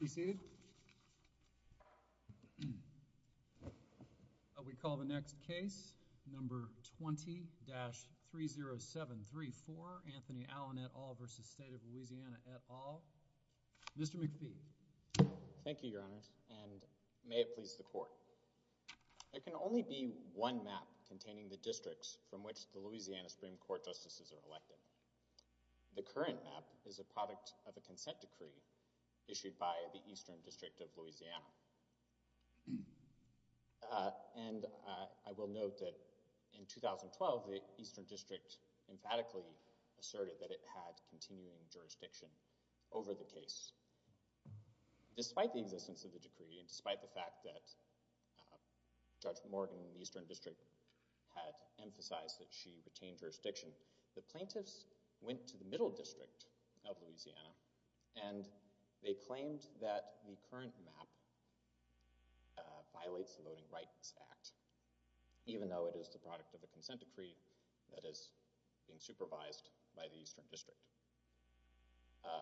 received we call the next case number 20-307 34 Anthony Allen at all versus state of Louisiana at all mr. McPhee thank you your honors and may it please the court it can only be one map containing the districts from which the Louisiana Supreme Court justices are elected the current map is a product of the Eastern District of Louisiana and I will note that in 2012 the Eastern District emphatically asserted that it had continuing jurisdiction over the case despite the existence of the decree and despite the fact that Judge Morgan Eastern District had emphasized that she retained jurisdiction the plaintiffs went to the Middle District of Louisiana and they claimed that the current map violates the Loading Rights Act even though it is the product of the consent decree that is being supervised by the Eastern District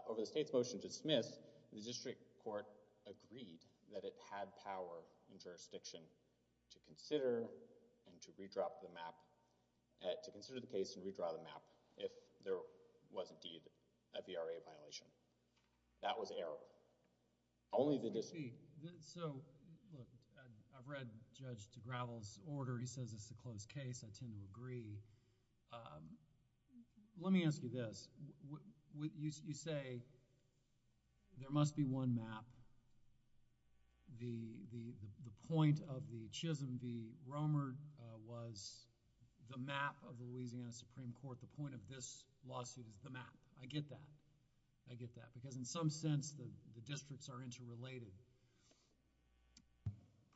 over the state's motion to dismiss the district court agreed that it had power and jurisdiction to consider and to redrop the map to consider the case and redraw the map if there was indeed a VRA violation that was error only the district so I've read judge to gravels order he says it's a closed case I tend to agree let me ask you this what you say there must be one map the the point of the Chisholm V. Romer was the map of the Louisiana Supreme Court the point of this lawsuit is the map I get that I get that because in some sense the districts are interrelated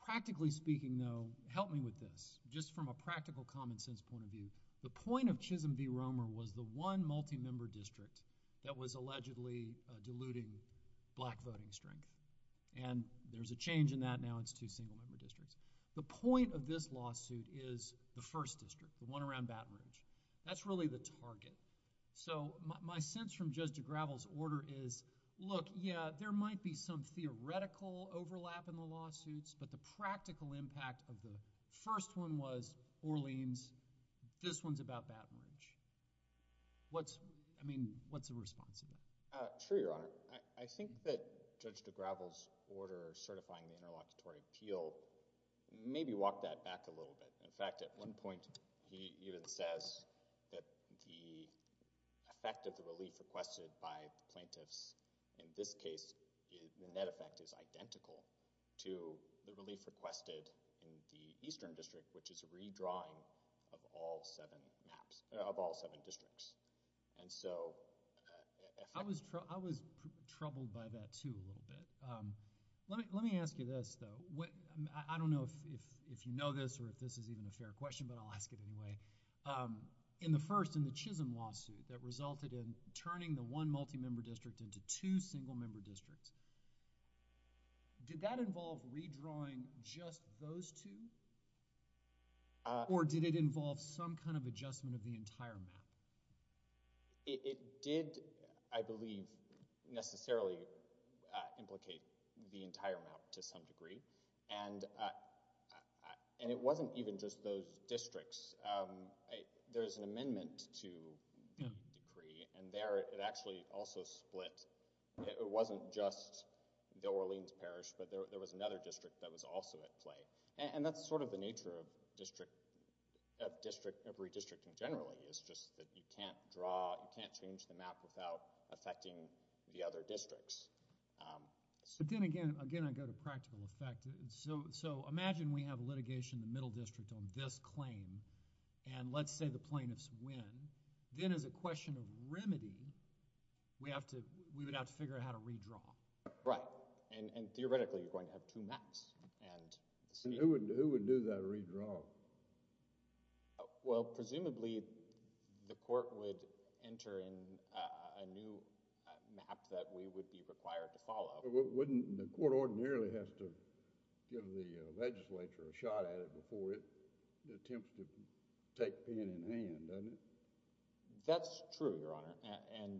practically speaking though help me with this just from a practical common-sense point of view the point of Chisholm V. Romer was the one multi-member district that was allegedly diluting black voting strength and there's a change in that now it's two single-member districts the point of this lawsuit is the first district the one around Baton Rouge that's really the target so my sense from judge to gravels order is look yeah there might be some theoretical overlap in the lawsuits but the practical impact of the first one was Orleans this one's about Baton Rouge what's I mean what's the response of sure your honor I think that judge to gravels order certifying the interlocutory appeal maybe walk that back a little bit in fact at one point he even says that the effect of the relief requested by plaintiffs in this case the net effect is identical to the relief requested in the eastern district which is a redrawing of all seven maps of all seven districts and so I was I was troubled by that too a little bit let me ask you this though what I don't know if if you know this or if this is even a fair question but I'll ask it anyway in the first in the Chisholm lawsuit that resulted in turning the one multi-member district into two single-member districts did that involve redrawing just those two or did it involve some kind of adjustment of the entire map it did I believe necessarily implicate the entire map to some degree and and it wasn't even just those districts there's an amendment to decree and there it actually also split it wasn't just the Orleans parish but there was another district that was also at play and that's sort of the nature of district district of redistricting generally is just that you can't draw you can't change the map without affecting the other districts so then again again I go to practical effect so so imagine we have litigation the middle district on this claim and let's say the plaintiffs win then as a question of remedy we have to we would have to figure out how to redraw right and and theoretically you're going to have two maps and see who would do that redraw well presumably the court would enter in a new map that we would be required to follow wouldn't the court ordinarily has to give the legislature a shot at it before it attempts to take pain in hand doesn't that's true your honor and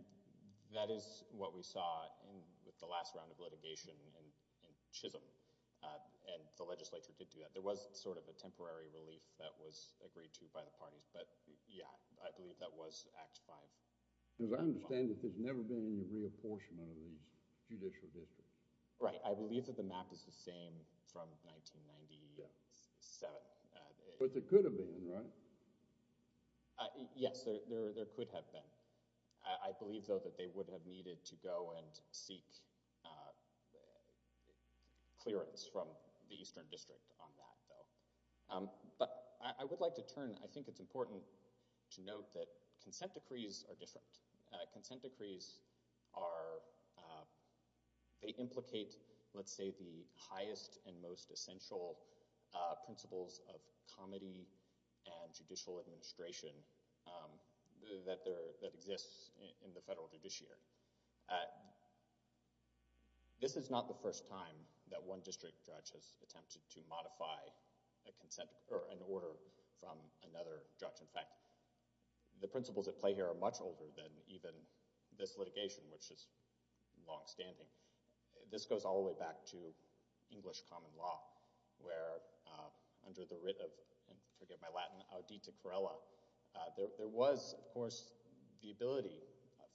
that is what we saw in the last round of litigation and Chisholm and the legislature did do that there was sort of a temporary relief that was agreed to by the parties but yeah I believe that was act 5 does I understand that there's never been any reapportionment of these judicial district right I believe that the map is the same from 1997 but there could have been right yes there there would have needed to go and seek clearance from the Eastern District on that though but I would like to turn I think it's important to note that consent decrees are different consent decrees are they implicate let's say the highest and most essential principles of comedy and judicial administration that there that exists in the federal judiciary this is not the first time that one district judge has attempted to modify a consent or an order from another judge in fact the principles at play here are much older than even this litigation which is long-standing this goes all the way back to English common law where under the writ of forgive my Latin Aditya Karela there was of course the ability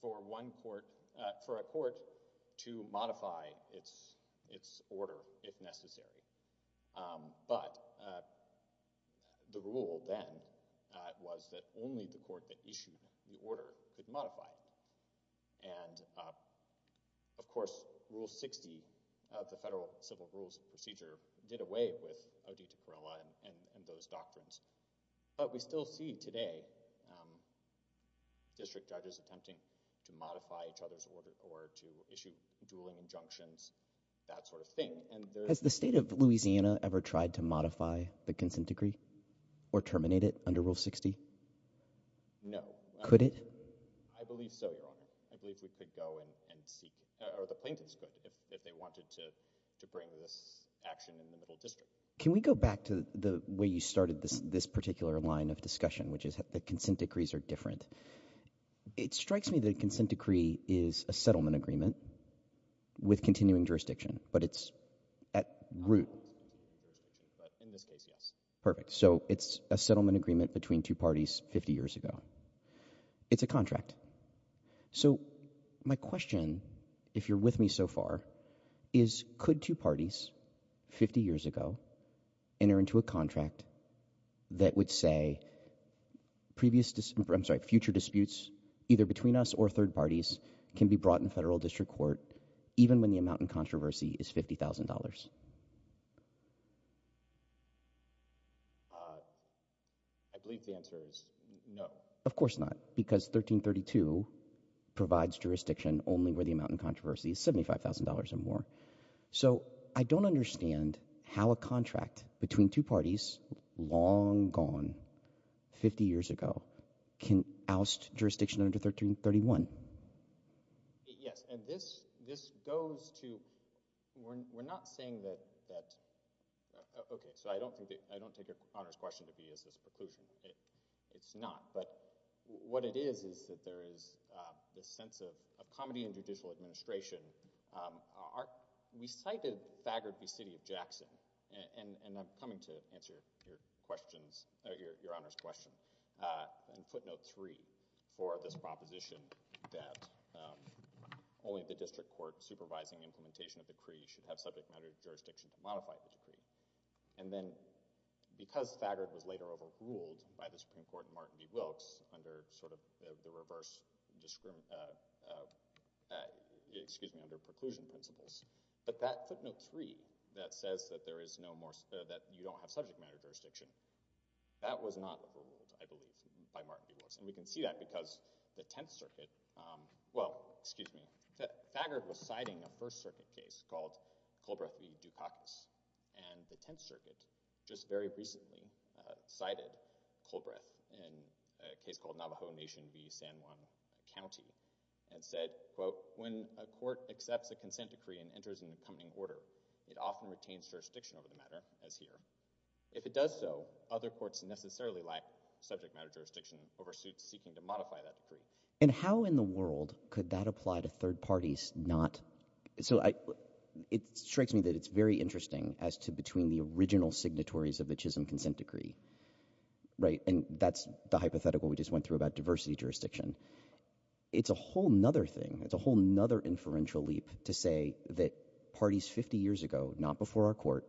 for one court for a court to modify its its order if necessary but the rule then was that only the court that issued the order could modify and of course rule 60 of the federal civil rules procedure did away with Aditya Karela and those doctrines but we still see today district judges attempting to modify each other's order or to issue dueling injunctions that sort of thing and there's the state of Louisiana ever tried to modify the consent decree or I believe so your honor I believe we could go in and seek or the plaintiffs could if they wanted to to bring this action in the middle district can we go back to the way you started this this particular line of discussion which is that the consent decrees are different it strikes me that a consent decree is a settlement agreement with continuing jurisdiction but it's at root perfect so it's a settlement agreement between two parties 50 years ago it's a contract so my question if you're with me so far is could two parties 50 years ago enter into a contract that would say previous to future disputes either between us or third parties can be brought in federal district court even when the amount in I believe the answer is no of course not because 1332 provides jurisdiction only where the amount in controversy is $75,000 or more so I don't understand how a contract between two parties long gone 50 years ago can oust jurisdiction under 1331 yes and this this goes to we're not saying that that okay so I don't think I don't take your honors question to be is this preclusion it's not but what it is is that there is this sense of comedy and judicial administration our we cited Thagard v. City of Jackson and and I'm coming to answer your questions your honors question and footnote three for this proposition that only the district court supervising implementation of decree should have subject matter jurisdiction to modify the decree and then because Thagard was later overruled by the Supreme Court Martin v. Wilkes under sort of the reverse discrimination excuse me under preclusion principles but that footnote three that says that there is no more that you don't have subject matter jurisdiction that was not overruled I believe by Martin v. Wilkes and we can see that because the Tenth Circuit well excuse me that Thagard was citing a First Circuit case called Colbreth v. Dukakis and the Tenth Circuit just very recently cited Colbreth in a case called Navajo Nation v. San Juan County and said quote when a court accepts a consent decree and enters an jurisdiction over the matter as here if it does so other courts necessarily lack subject matter jurisdiction oversuits seeking to modify that decree and how in the world could that apply to third parties not so I it strikes me that it's very interesting as to between the original signatories of the Chisholm consent decree right and that's the hypothetical we just went through about diversity jurisdiction it's a whole nother thing it's a whole nother inferential leap to say that parties 50 years ago not before our court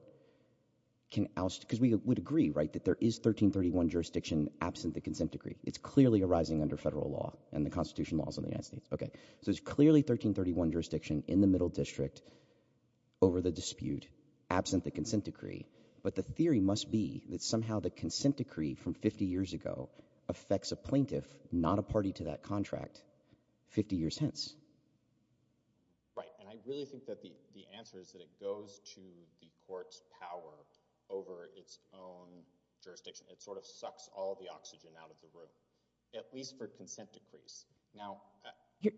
can oust because we would agree right that there is 1331 jurisdiction absent the consent decree it's clearly arising under federal law and the Constitution laws of the United States okay so it's clearly 1331 jurisdiction in the Middle District over the dispute absent the consent decree but the theory must be that somehow the consent decree from 50 years ago affects a plaintiff not a right and I really think that the the answer is that it goes to the court's power over its own jurisdiction it sort of sucks all the oxygen out of the room at least for consent decrees now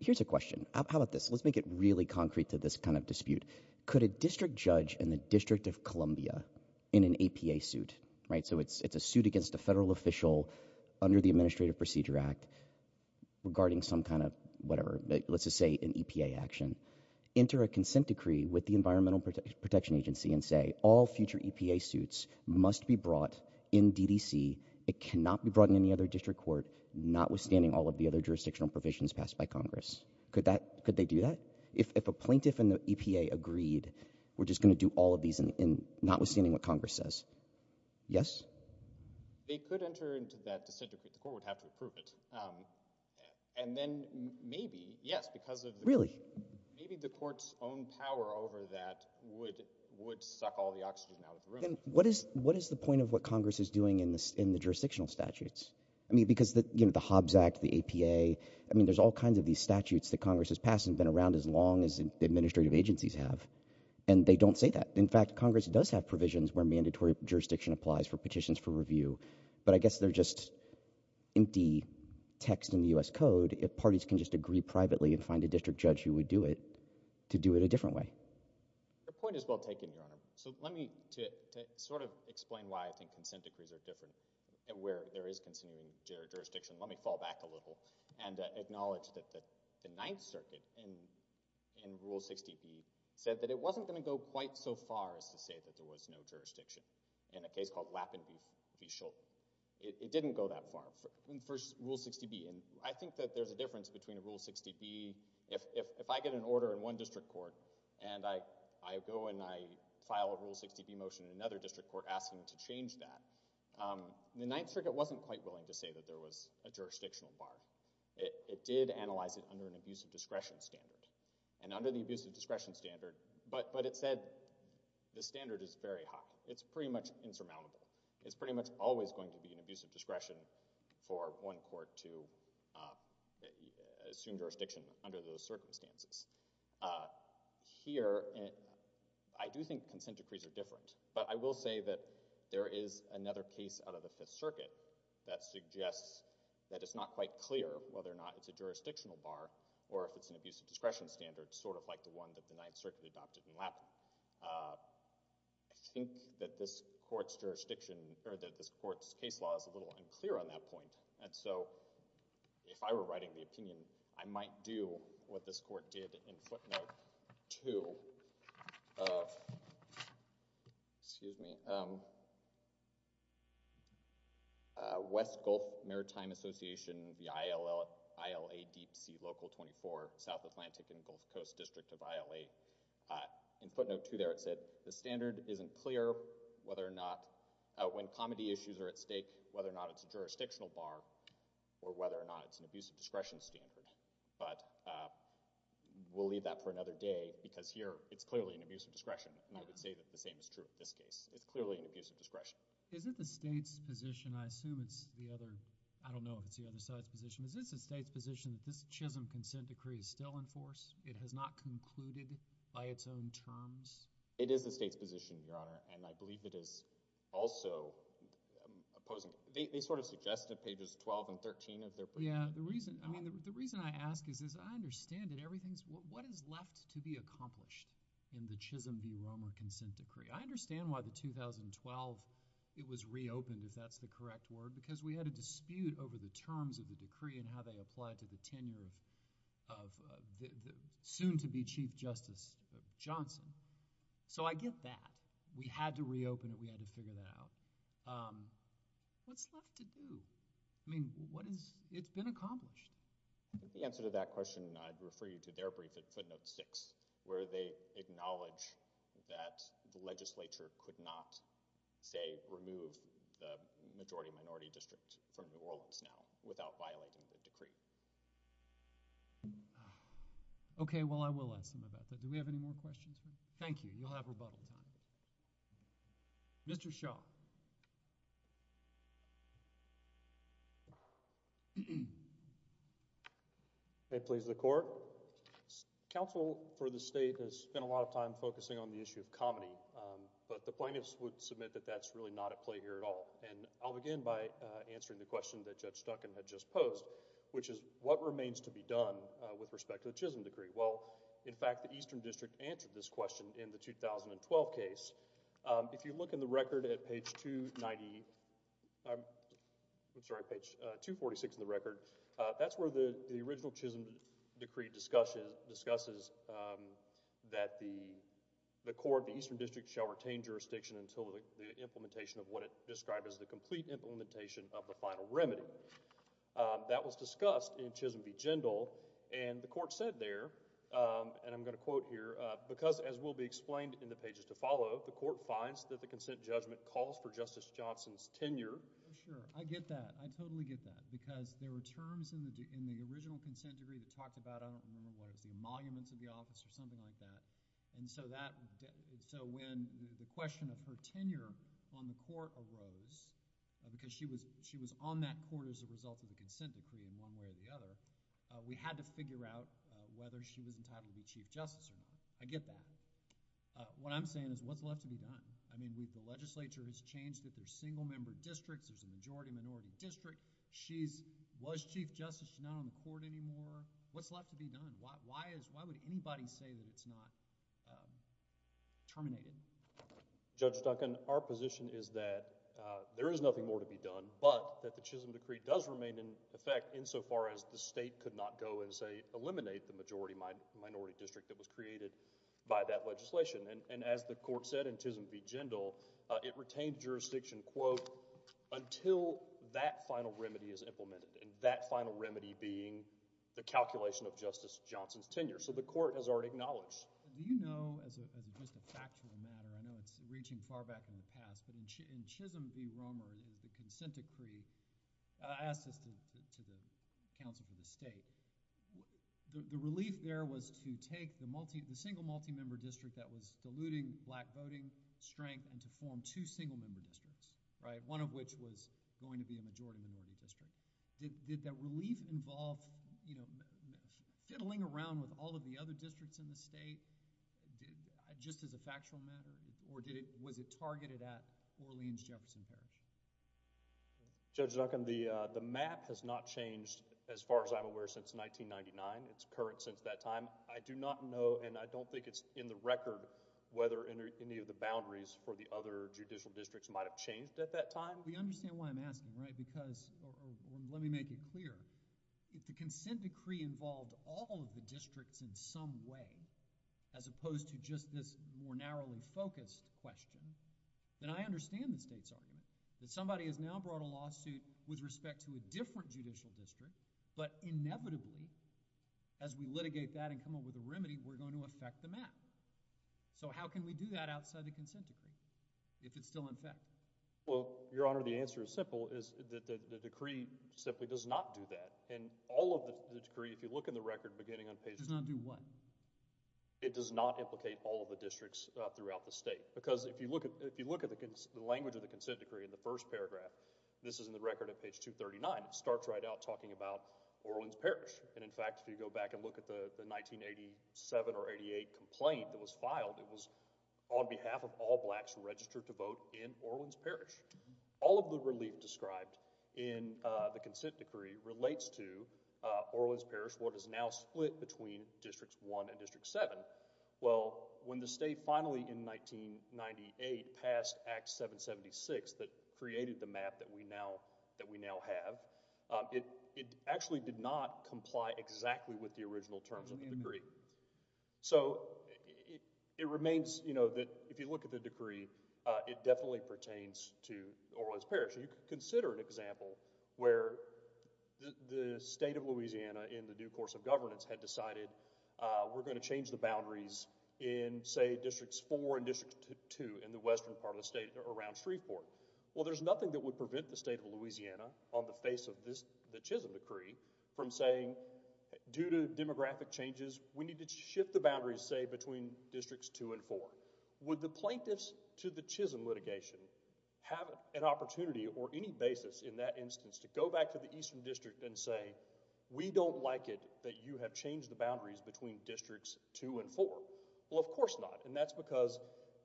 here's a question how about this let's make it really concrete to this kind of dispute could a district judge in the District of Columbia in an APA suit right so it's it's a suit against a federal official under the Administrative Procedure Act regarding some kind of whatever let's say an EPA action enter a consent decree with the Environmental Protection Agency and say all future EPA suits must be brought in DDC it cannot be brought in any other district court notwithstanding all of the other jurisdictional provisions passed by Congress could that could they do that if a plaintiff and the EPA agreed we're just gonna do all of these and not understanding what Congress says yes and then maybe yes because of really maybe the court's own power over that would would suck all the oxygen out of the room what is what is the point of what Congress is doing in this in the jurisdictional statutes I mean because that you know the Hobbs Act the APA I mean there's all kinds of these statutes that Congress has passed and been around as long as administrative agencies have and they don't say that in fact Congress does have provisions where mandatory jurisdiction applies for petitions for review but I guess they're just empty text in the US Code if parties can just agree privately and find a district judge who would do it to do it a different way the point is well taken your honor so let me to sort of explain why I think consent decrees are different and where there is considering jurisdiction let me fall back a little and acknowledge that the Ninth Circuit and in Rule 60p said that it wasn't going to go quite so far as to say that there was no jurisdiction in a case called Lappin v. Schulte it didn't go that far in first Rule 60b and I think that there's a difference between a Rule 60b if I get an order in one district court and I I go and I file a Rule 60b motion in another district court asking to change that the Ninth Circuit wasn't quite willing to say that there was a jurisdictional bar it did analyze it under an abuse of discretion standard and under the abuse of discretion standard but but it said the standard is very high it's pretty much insurmountable it's pretty much always going to be an abuse of discretion for one court to assume jurisdiction under those circumstances here and I do think consent decrees are different but I will say that there is another case out of the Fifth Circuit that suggests that it's not quite clear whether or not it's a jurisdictional bar or if it's an abuse of discretion standard sort of like the one that the Ninth Circuit adopted in Lappin. I think that this court's jurisdiction or that this court's case law is a little unclear on that point and so if I were writing the opinion I might do what this court did in footnote 2 of excuse me West Gulf Maritime Association the ILL ILA deep sea local 24 South Atlantic and Gulf Coast district of ILA in footnote 2 there it said the standard isn't clear whether or not when comedy issues are at stake whether or not it's a jurisdictional bar or whether or not it's an abuse of discretion standard but we'll leave that for another day because here it's clearly an abuse of discretion and I would say that the same is true in this case it's clearly an abuse of discretion. Is it the state's position I assume it's the other I don't know if it's the other side's position is this a state's position that this Chisholm consent decree is still in force it has not concluded by its own terms? It is the state's position your honor and I believe it is also opposing they sort of suggested pages 12 and 13 of their yeah the reason I mean the reason I ask is is I understand it everything's what is left to be accomplished in the Chisholm v. Romer consent decree I understand why the 2012 it was reopened if that's the correct word because we had a dispute over the terms of the decree and how they applied to the tenure of the soon-to-be Chief Justice Johnson so I get that we had to it's been accomplished. The answer to that question I'd refer you to their brief at footnote six where they acknowledge that the legislature could not say remove the majority minority district from New Orleans now without violating the decree. Okay well I will ask them about that do we have any more questions? Thank you you'll have rebuttal time. Mr. Shaw May it please the court. Counsel for the state has spent a lot of time focusing on the issue of comedy but the plaintiffs would submit that that's really not at play here at all and I'll begin by answering the question that Judge Duncan had just posed which is what remains to be done with respect to the Chisholm decree well in fact the Eastern District answered this question in the 2012 case if you look in the record at page 290 I'm sorry page 246 in the record that's where the the original Chisholm decree discussion discusses that the the court the Eastern District shall retain jurisdiction until the implementation of what it described as the complete implementation of the final remedy. That was discussed in Chisholm v. Jindal and the court said there and I'm going to quote here because as will be explained in the pages to follow the court finds that the consent judgment calls for Justice Jindal. There were terms in the original consent decree that talked about I don't remember what it was the emoluments of the office or something like that and so that so when the question of her tenure on the court arose because she was she was on that court as a result of the consent decree in one way or the other we had to figure out whether she was entitled to be Chief Justice or not. I get that. What I'm saying is what's left to be done. I mean we've the legislature has changed that there's single-member districts there's a majority-minority district. She's was Chief Justice. She's not on the court anymore. What's left to be done? Why is why would anybody say that it's not terminated? Judge Duncan our position is that there is nothing more to be done but that the Chisholm decree does remain in effect insofar as the state could not go and say eliminate the majority-minority district that was created by that legislation and as the court said in Chisholm v. Jindal it retained jurisdiction quote until that final remedy is implemented and that final remedy being the calculation of Justice Johnson's tenure so the court has already acknowledged. Do you know as a factual matter I know it's reaching far back in the past but in Chisholm v. Romer the consent decree asked us to the council for the state the relief there was to take the multi the single multi-member district that was diluting black voting strength and to form two single-member districts right one of which was going to be a majority-minority district. Did that relief involve you know fiddling around with all of the other districts in the state did just as a factual matter or did it was it targeted at Orleans Jefferson Parish? Judge Duncan the the map has not changed as far as I'm aware since 1999. It's current since that time. I do not know and I don't think it's in the record whether any of the boundaries for the other judicial districts might have changed at that time. We understand why I'm asking right because let me make it clear if the consent decree involved all of the districts in some way as opposed to just this more narrowly focused question then I understand the state's argument that somebody has now brought a lawsuit with respect to a different judicial district but inevitably as we litigate that and come up with a remedy we're going to affect the map. So how can we do that outside the consent decree if it's still in effect? Well your honor the answer is simple is that the decree simply does not do that and all of the decree if you look in the record beginning on page does not do what? It does not implicate all of the districts throughout the state because if you look at if you look at the language of the consent decree in the first paragraph this is in the record at page 239 it starts right out talking about Orleans Parish and in fact if you go back and look at the 1987 or 88 complaint that was filed it was on behalf of all blacks registered to vote in Orleans Parish. All of the relief described in the consent decree relates to Orleans Parish what is now split between districts 1 and district 7. Well when the state finally in 1998 passed Act 776 that created the map that we now that we now have it it actually did not comply exactly with the original terms of the it remains you know that if you look at the decree it definitely pertains to Orleans Parish. You could consider an example where the state of Louisiana in the due course of governance had decided we're going to change the boundaries in say districts 4 and district 2 in the western part of the state around Shreveport. Well there's nothing that would prevent the state of Louisiana on the face of this the Chisholm decree from saying due to demographic changes we need to shift the boundaries say between districts 2 and 4. Would the plaintiffs to the Chisholm litigation have an opportunity or any basis in that instance to go back to the eastern district and say we don't like it that you have changed the boundaries between districts 2 and 4. Well of course not and that's because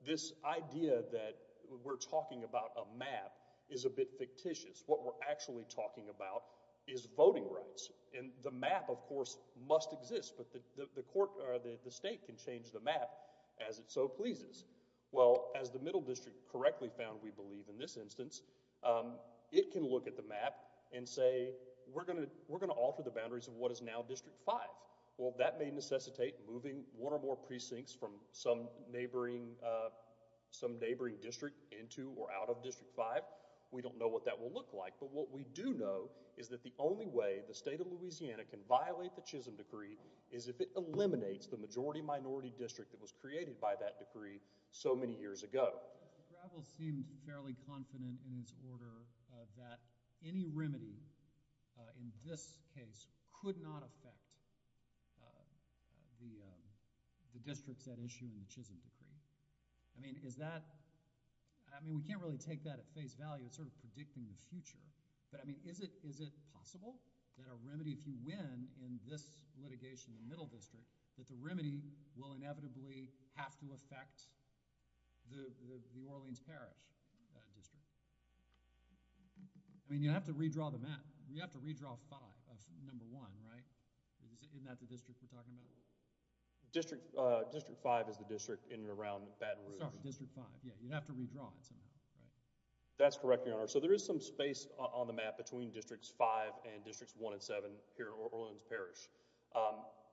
this idea that we're talking about a map is a bit fictitious. What we're actually talking about is voting rights and the map of course must exist but the court or the state can change the map as it so pleases. Well as the middle district correctly found we believe in this instance it can look at the map and say we're gonna we're gonna alter the boundaries of what is now district 5. Well that may necessitate moving one or more precincts from some neighboring some neighboring district into or out of district 5. We don't know what that will look like but what we do know is that the only way the state of is if it eliminates the majority-minority district that was created by that decree so many years ago. Gravel seemed fairly confident in its order that any remedy in this case could not affect the districts at issue in the Chisholm decree. I mean is that I mean we can't really take that at face value it's sort of predicting the future but I mean is it possible that a remedy if you win in this litigation the middle district that the remedy will inevitably have to affect the Orleans Parish District. I mean you have to redraw the map. You have to redraw 5, number one, right? Isn't that the district we're talking about? District 5 is the district in and around Baton Rouge. Sorry, District 5. Yeah, you'd have to redraw it somehow, right? That's correct, your map between districts 5 and districts 1 and 7 here at Orleans Parish.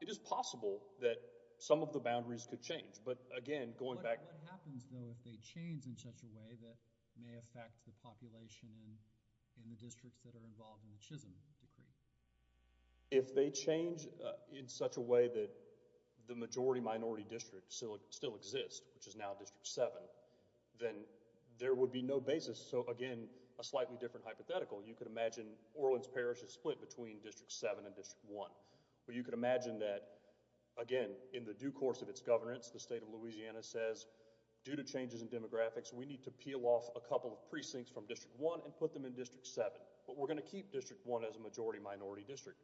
It is possible that some of the boundaries could change but again going back what happens though if they change in such a way that may affect the population and in the districts that are involved in the Chisholm decree? If they change in such a way that the majority-minority district still exists which is now district 7 then there would be no basis so again a slightly different hypothetical. You could imagine Orleans Parish is split between district 7 and district 1 but you could imagine that again in the due course of its governance the state of Louisiana says due to changes in demographics we need to peel off a couple of precincts from district 1 and put them in district 7 but we're gonna keep district 1 as a majority-minority district.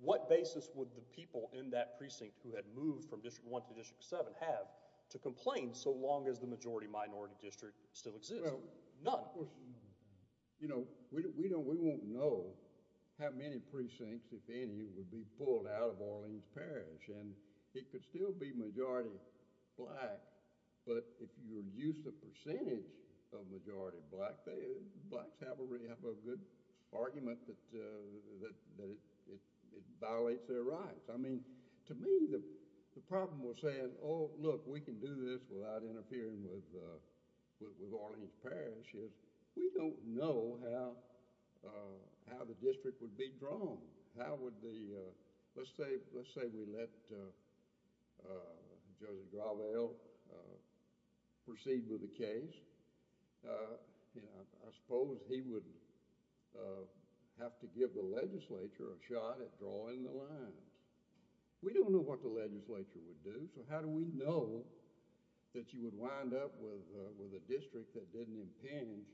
What basis would the people in that precinct who had moved from district 1 to district 7 have to complain so long as the you know we don't we won't know how many precincts if any would be pulled out of Orleans Parish and it could still be majority black but if you reduce the percentage of majority black, blacks have a really good argument that it violates their rights. I mean to me the problem was saying oh look we can do this without interfering with Orleans Parish is we don't know how how the district would be drawn. How would the let's say let's say we let Judge Gravel proceed with the case you know I suppose he would have to give the legislature a shot at drawing the lines. We don't know what the legislature would do so how do we know that you would wind up with a district that didn't impinge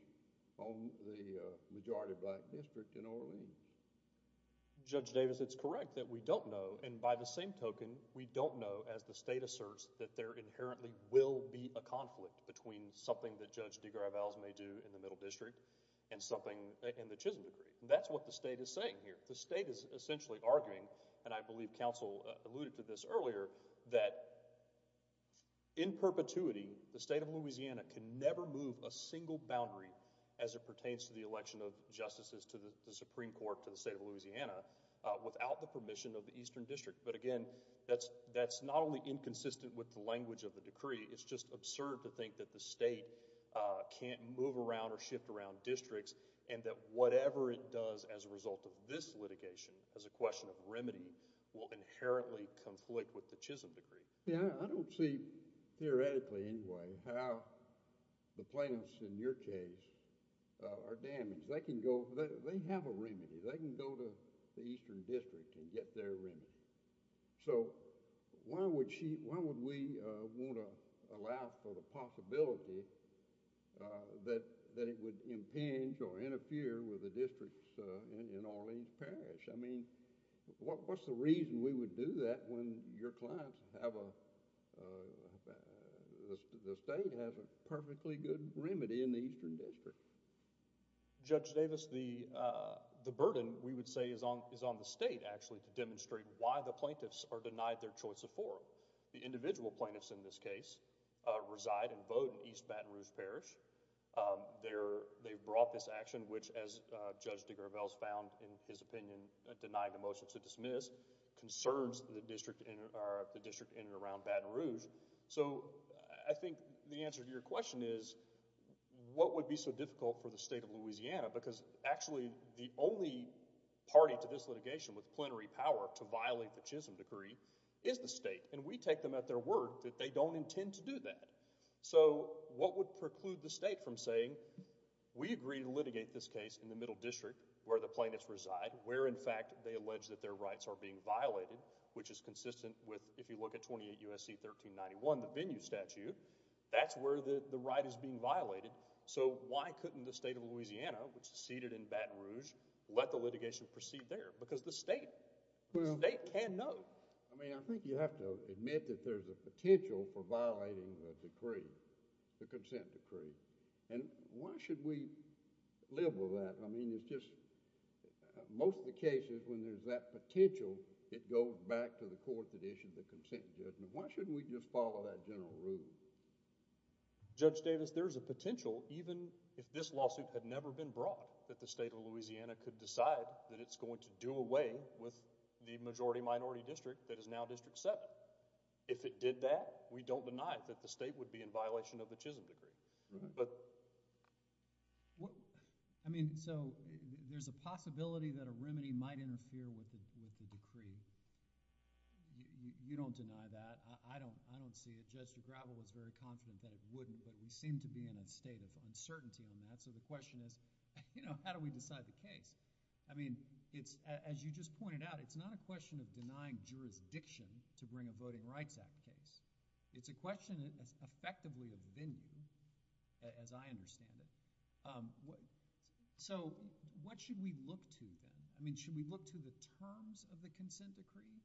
on the majority black district in Orleans? Judge Davis it's correct that we don't know and by the same token we don't know as the state asserts that there inherently will be a conflict between something that Judge DeGravel may do in the Middle District and something in the Chisholm Decree. That's what the state is saying here. The state is essentially arguing and I believe counsel alluded to this earlier that in perpetuity the state of Louisiana can never move a single boundary as it pertains to the election of justices to the Supreme Court to the state of Louisiana without the permission of the Eastern District but again that's that's not only inconsistent with the language of the decree it's just absurd to think that the state can't move around or shift around districts and that whatever it does as a result of this litigation as a conflict with the Chisholm Decree. Yeah I don't see theoretically anyway how the plaintiffs in your case are damaged. They can go they have a remedy they can go to the Eastern District and get their remedy. So why would she why would we want to allow for the possibility that that it would impinge or interfere with the districts in Orleans Parish? I mean what's the reason we would do that when your clients have a... the state has a perfectly good remedy in the Eastern District. Judge Davis the the burden we would say is on is on the state actually to demonstrate why the plaintiffs are denied their choice of forum. The individual plaintiffs in this case reside and vote in East Baton Rouge Parish. They're they brought this action which as Judge DeGravelle found in his the district in and around Baton Rouge. So I think the answer to your question is what would be so difficult for the state of Louisiana because actually the only party to this litigation with plenary power to violate the Chisholm Decree is the state and we take them at their word that they don't intend to do that. So what would preclude the state from saying we agree to litigate this case in the Middle District where the plaintiffs reside where in fact they with if you look at 28 U.S.C. 1391 the venue statute that's where the the right is being violated. So why couldn't the state of Louisiana which is seated in Baton Rouge let the litigation proceed there because the state they can't know. I mean I think you have to admit that there's a potential for violating the decree the consent decree and why should we live with that. I mean it's just most of the cases when there's that potential it goes back to the court that issued the consent judgment. Why shouldn't we just follow that general rule. Judge Davis there is a potential even if this lawsuit had never been brought that the state of Louisiana could decide that it's going to do away with the majority minority district that is now District 7. If it did that we don't deny that the state would be in violation of the Chisholm Decree. I mean so there's a possibility that a remedy might interfere with the decree. You don't deny that. I don't I don't see it. Judge DeGravel was very confident that it wouldn't but we seem to be in a state of uncertainty on that so the question is you know how do we decide the case. I mean it's as you just pointed out it's not a question of denying jurisdiction to bring a Voting Act. It's effectively a venue as I understand it. So what should we look to then? I mean should we look to the terms of the consent decree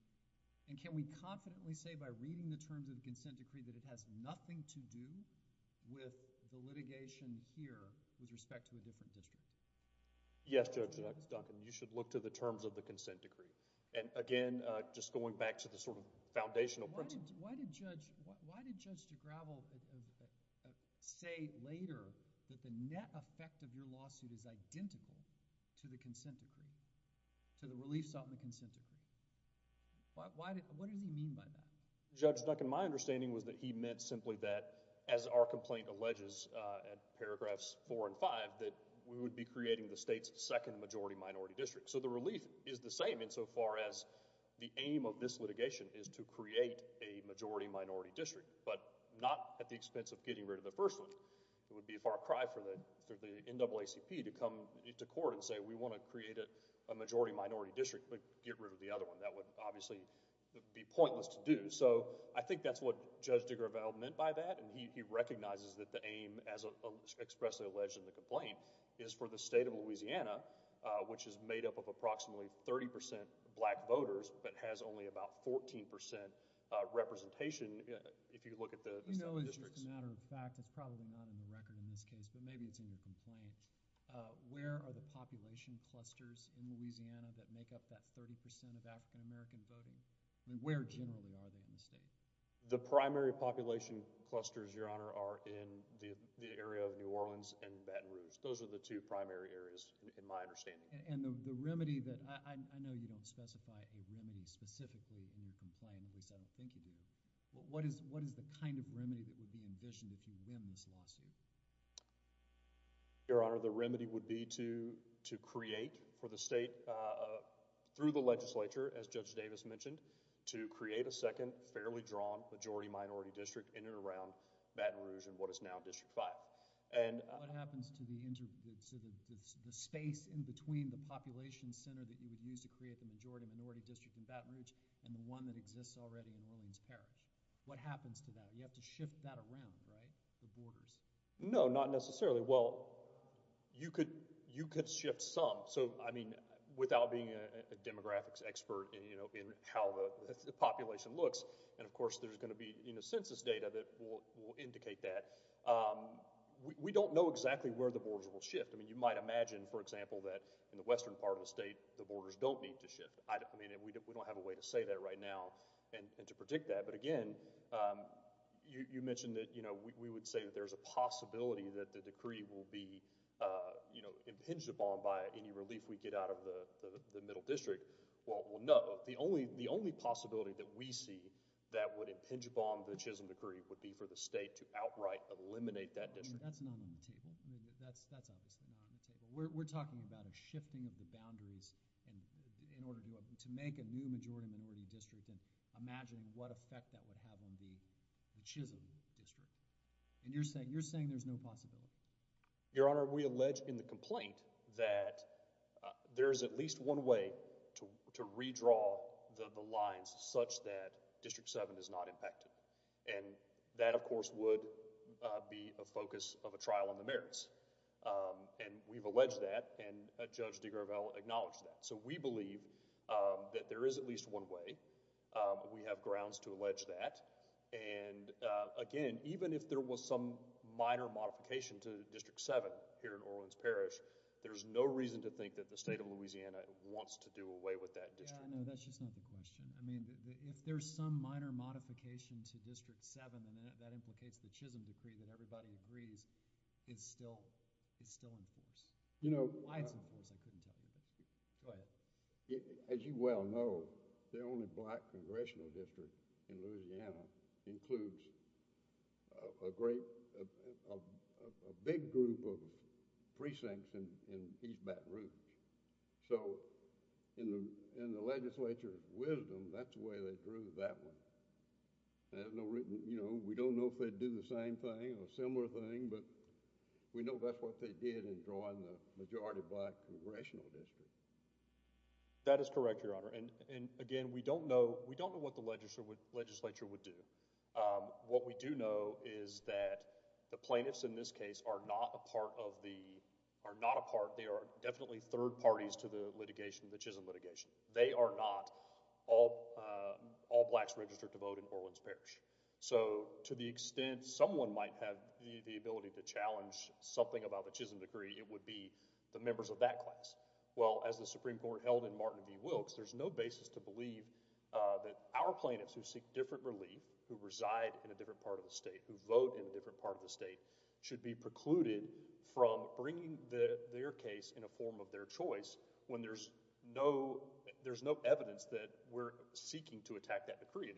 and can we confidently say by reading the terms of the consent decree that it has nothing to do with the litigation here with respect to a different district. Yes Judge Duncan you should look to the terms of the consent decree and again just going back to the sort of foundational principles. Why did Judge DeGravel say later that the net effect of your lawsuit is identical to the consent decree, to the relief sought in the consent decree? What does he mean by that? Judge Duncan my understanding was that he meant simply that as our complaint alleges at paragraphs four and five that we would be creating the state's second majority minority district. So the relief is the aim of this litigation is to create a majority minority district but not at the expense of getting rid of the first one. It would be a far cry for the NAACP to come into court and say we want to create a majority minority district but get rid of the other one. That would obviously be pointless to do. So I think that's what Judge DeGravel meant by that and he recognizes that the aim as expressly alleged in the complaint is for the state of Louisiana which is made up of approximately 30 percent black voters but has only about 14 percent representation. If you look at the. You know as a matter of fact it's probably not in the record in this case but maybe it's in the complaint. Where are the population clusters in Louisiana that make up that 30 percent of African-American voting? I mean where generally are they in the state? The primary population clusters your honor are in the area of New Orleans and Baton Rouge. Those are the two primary areas in my understanding. And the remedy that I know you don't specify a remedy specifically in your complaint at least I don't think you do. What is what is the kind of remedy that would be envisioned if you win this lawsuit? Your honor the remedy would be to to create for the state through the legislature as Judge Davis mentioned to create a second fairly drawn majority minority district in and around Baton Rouge and what is now District 5. And what happens to the space in between the population center that you would use to create the majority minority district in Baton Rouge and the one that exists already in Orleans Parish. What happens to that? You have to shift that around right? The borders. No not necessarily. Well you could you could shift some. So I mean without being a demographics expert you know in how the population looks and of course there's going to be you know census data that will indicate that we don't know exactly where the borders will shift. I mean you might imagine for example that in the western part of the state the borders don't need to shift. I mean we don't have a way to say that right now and to predict that. But again you mentioned that you know we would say that there's a possibility that the decree will be you know impinged upon by any relief we get out of the middle district. Well no. The only the only possibility that we see that would impinge upon the Chisholm decree would be for the state to outright eliminate that district. That's not on the table. That's that's obviously not on the table. We're talking about a shifting of the boundaries and in order to make a new majority minority district and imagining what effect that would have on the Chisholm district. And you're saying you're saying there's no possibility. Your Honor we allege in the complaint that there is at least one way to redraw the lines such that District 7 is not impacted. And that of course would be a focus of a trial on the merits. And we've alleged that and Judge DeGravelle acknowledged that. So we believe that there is at least one way. We have grounds to allege that. And again even if there was some minor modification to District 7 here in Orleans Parish there's no reason to think that the question I mean if there's some minor modification to District 7 and that implicates the Chisholm decree that everybody agrees it's still it's still in force. You know why it's in force I couldn't tell you. Go ahead. As you well know the only black congressional district in Louisiana includes a great big group of precincts in East Baton Rouge. So in the legislature's wisdom that's the way they drew that one. You know we don't know if they'd do the same thing or a similar thing but we know that's what they did in drawing the majority black congressional district. That is correct Your Honor. And again we don't know we don't know what the legislature would do. What we do know is that the plaintiffs in this case are not a part of the are not a part they are definitely third parties to the litigation the Chisholm litigation. They are not all all blacks registered to vote in Orleans Parish. So to the extent someone might have the ability to challenge something about the Chisholm decree it would be the members of that class. Well as the Supreme Court held in Martin V Wilkes there's no basis to believe that our plaintiffs who seek different relief who reside in a different part of the state who vote in a different part of the state should be precluded from bringing their case in a form of their choice when there's no there's no evidence that we're seeking to attack that decree.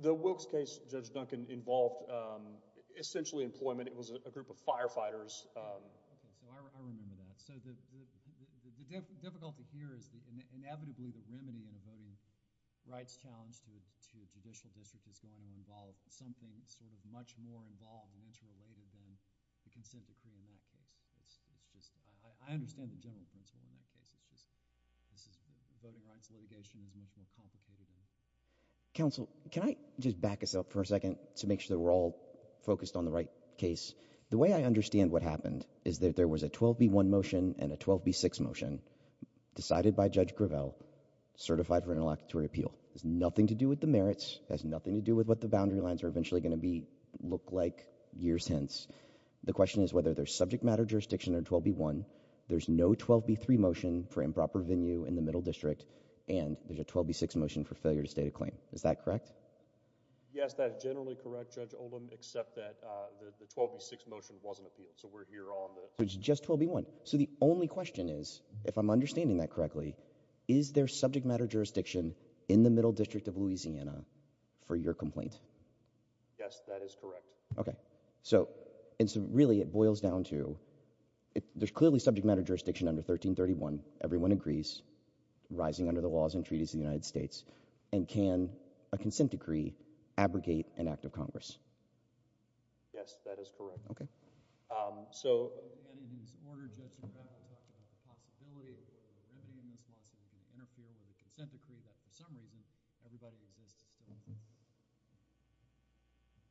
The Wilkes case Judge Duncan involved essentially employment. It was a group of members of the district. I understand the general principle in that case, it's just voting rights litigation is much more complicated than that. Counsel can I just back us up for a second to make sure that we're all focused on the right case. The way I understand what happened is that there was a 12b1 motion and a 12b6 motion decided by Judge Gravel certified for nothing to do with the merits, has nothing to do with what the boundary lines are eventually going to be look like years hence. The question is whether there's subject matter jurisdiction or 12b1. There's no 12b3 motion for improper venue in the middle district and there's a 12b6 motion for failure to state a claim. Is that correct? Yes that's generally correct Judge Oldham except that the 12b6 motion wasn't appealed. So we're here on the... So it's just 12b1. So the only question is if I'm understanding that correctly is there subject matter jurisdiction in the middle district of Louisiana for your complaint? Yes that is correct. Okay so it's really it boils down to there's clearly subject matter jurisdiction under 1331. Everyone agrees, rising under the laws and treaties of the United States and can a consent decree abrogate an act of Congress? Yes that is correct. Okay so...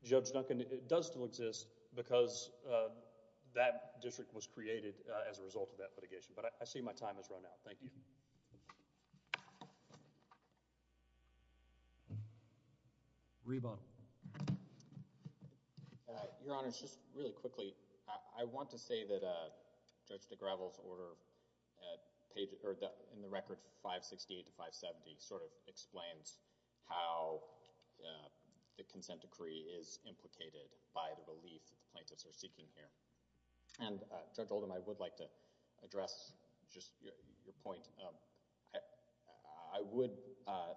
Judge Duncan, it does still exist because that district was created as a result of that litigation but I see my time has run out. Thank you. Reba. Your Honor, just really quickly I want to say that a Judge de Gravel's order in the record 568 to 570 sort of explains how the consent decree is implicated by the relief that the plaintiffs are seeking here and Judge I would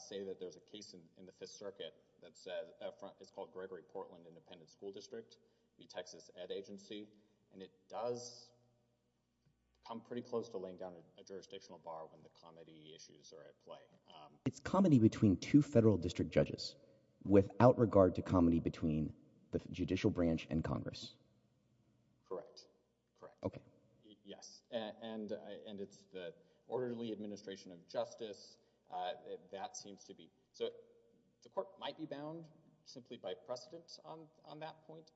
say that there's a case in the Fifth Circuit that says it's called Gregory Portland Independent School District, the Texas Ed Agency, and it does come pretty close to laying down a jurisdictional bar when the comedy issues are at play. It's comedy between two federal district judges without regard to comedy between the judicial branch and Congress? Correct. Okay. Yes and and it's the Orderly Administration of Justice that seems to be... so the court might be bound simply by precedent on that point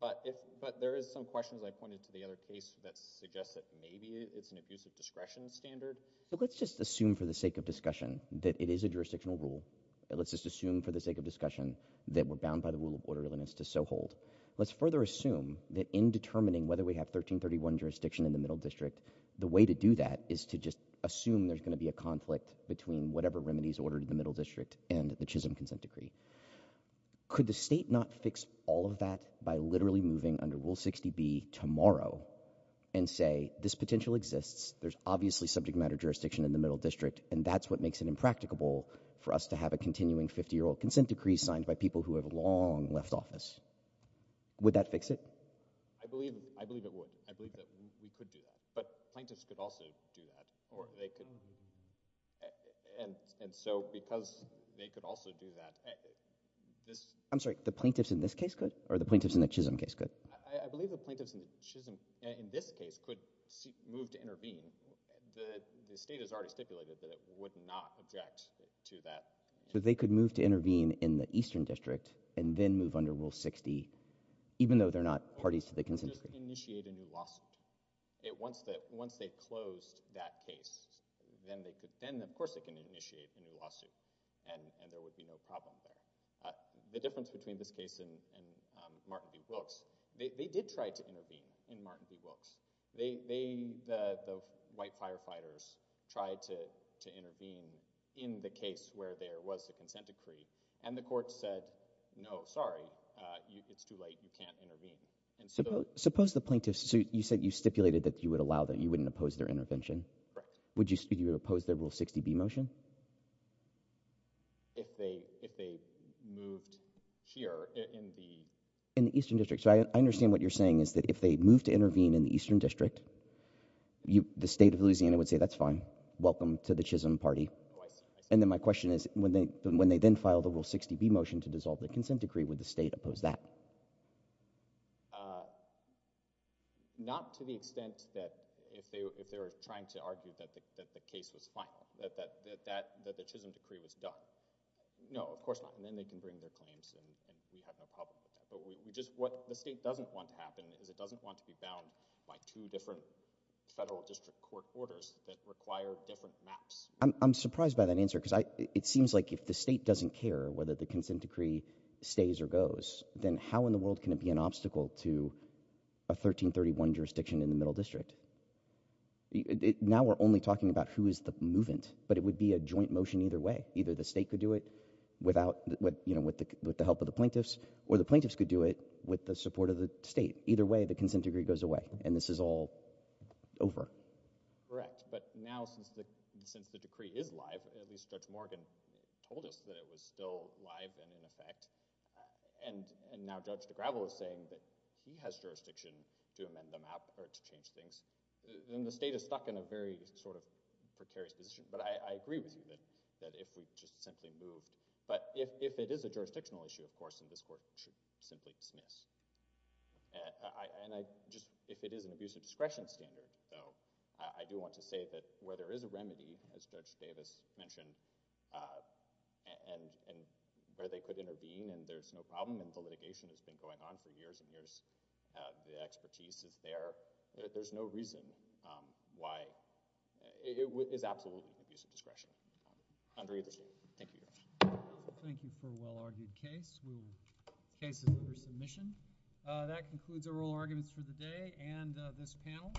but if but there is some questions I pointed to the other case that suggests that maybe it's an abusive discretion standard. So let's just assume for the sake of discussion that it is a jurisdictional rule. Let's just assume for the sake of discussion that we're bound by the rule of orderliness to so hold. Let's further assume that in determining whether we have 1331 jurisdiction in the Middle District the way to do that is to just assume there's going to be a conflict between whatever remedies ordered in the Middle District and the Chisholm consent decree. Could the state not fix all of that by literally moving under Rule 60B tomorrow and say this potential exists, there's obviously subject matter jurisdiction in the Middle District and that's what makes it impracticable for us to have a continuing 50-year-old consent decree signed by people who have long left office. Would that fix it? I believe it would. I believe that we could do that but plaintiffs could also do that or they could and so because they could also do that... I'm sorry, the plaintiffs in this case could or the plaintiffs in the Chisholm case could? I believe the plaintiffs in the Chisholm, in this case, could move to intervene. The state has already stipulated that it would not object to that. So they could move to intervene in the Eastern District and then move under Rule 60 even though they're not parties to the consent decree. Just initiate a new lawsuit. Once they closed that case, then they could then of course they can initiate a new lawsuit and there would be no problem there. The difference between this case and Martin v. Wilkes, they did try to intervene in Martin v. Wilkes. The white firefighters tried to intervene in the case where there was a consent decree and the court said, no, sorry, it's too late, you can't intervene. Suppose the plaintiffs, you said you stipulated that you would allow them, you wouldn't oppose their intervention. Would you oppose their Rule 60b motion? If they moved here in the Eastern District. So I understand what you're saying is that if they move to intervene in the Eastern District, the state of Louisiana would say that's fine, welcome to the Chisholm party and then my question is when they then file the Rule 60b motion to dissolve the consent decree, would the state oppose that? Not to the extent that if they were trying to argue that the case was final, that the Chisholm decree was done. No, of course not. And then they can bring their claims and we have no problem with that. But what the state doesn't want to happen is it doesn't want to be bound by two different federal district court orders that require different maps. I'm surprised by that answer because it seems like if the state doesn't care whether the consent decree stays or goes, then how in the world can it be an obstacle to a 1331 jurisdiction in the Middle District? Now we're only talking about who is the movant, but it would be a joint motion either way. Either the state could do it without, you know, with the help of the plaintiffs or the plaintiffs could do it with the support of the state. Either way, the consent decree goes away and this is all over. Correct, but now since the since the decree is live, at least Judge Morgan told us that it was still live and in effect, and now Judge DeGravo is saying that he has jurisdiction to amend the map or to change things, then the state is stuck in a very sort of precarious position. But I agree with you that if we just simply moved, but if it is a jurisdictional issue, of course, then this court should simply dismiss. And I just, if it is an abusive discretion standard, though, I do want to say that where there is a remedy, as Judge Davis mentioned, and where they could intervene and there's no problem and the litigation has been going on for years and years, the expertise is there. There's no reason why. It is absolutely an abusive discretionary case. Case is under submission. That concludes our oral arguments for the day and this panel.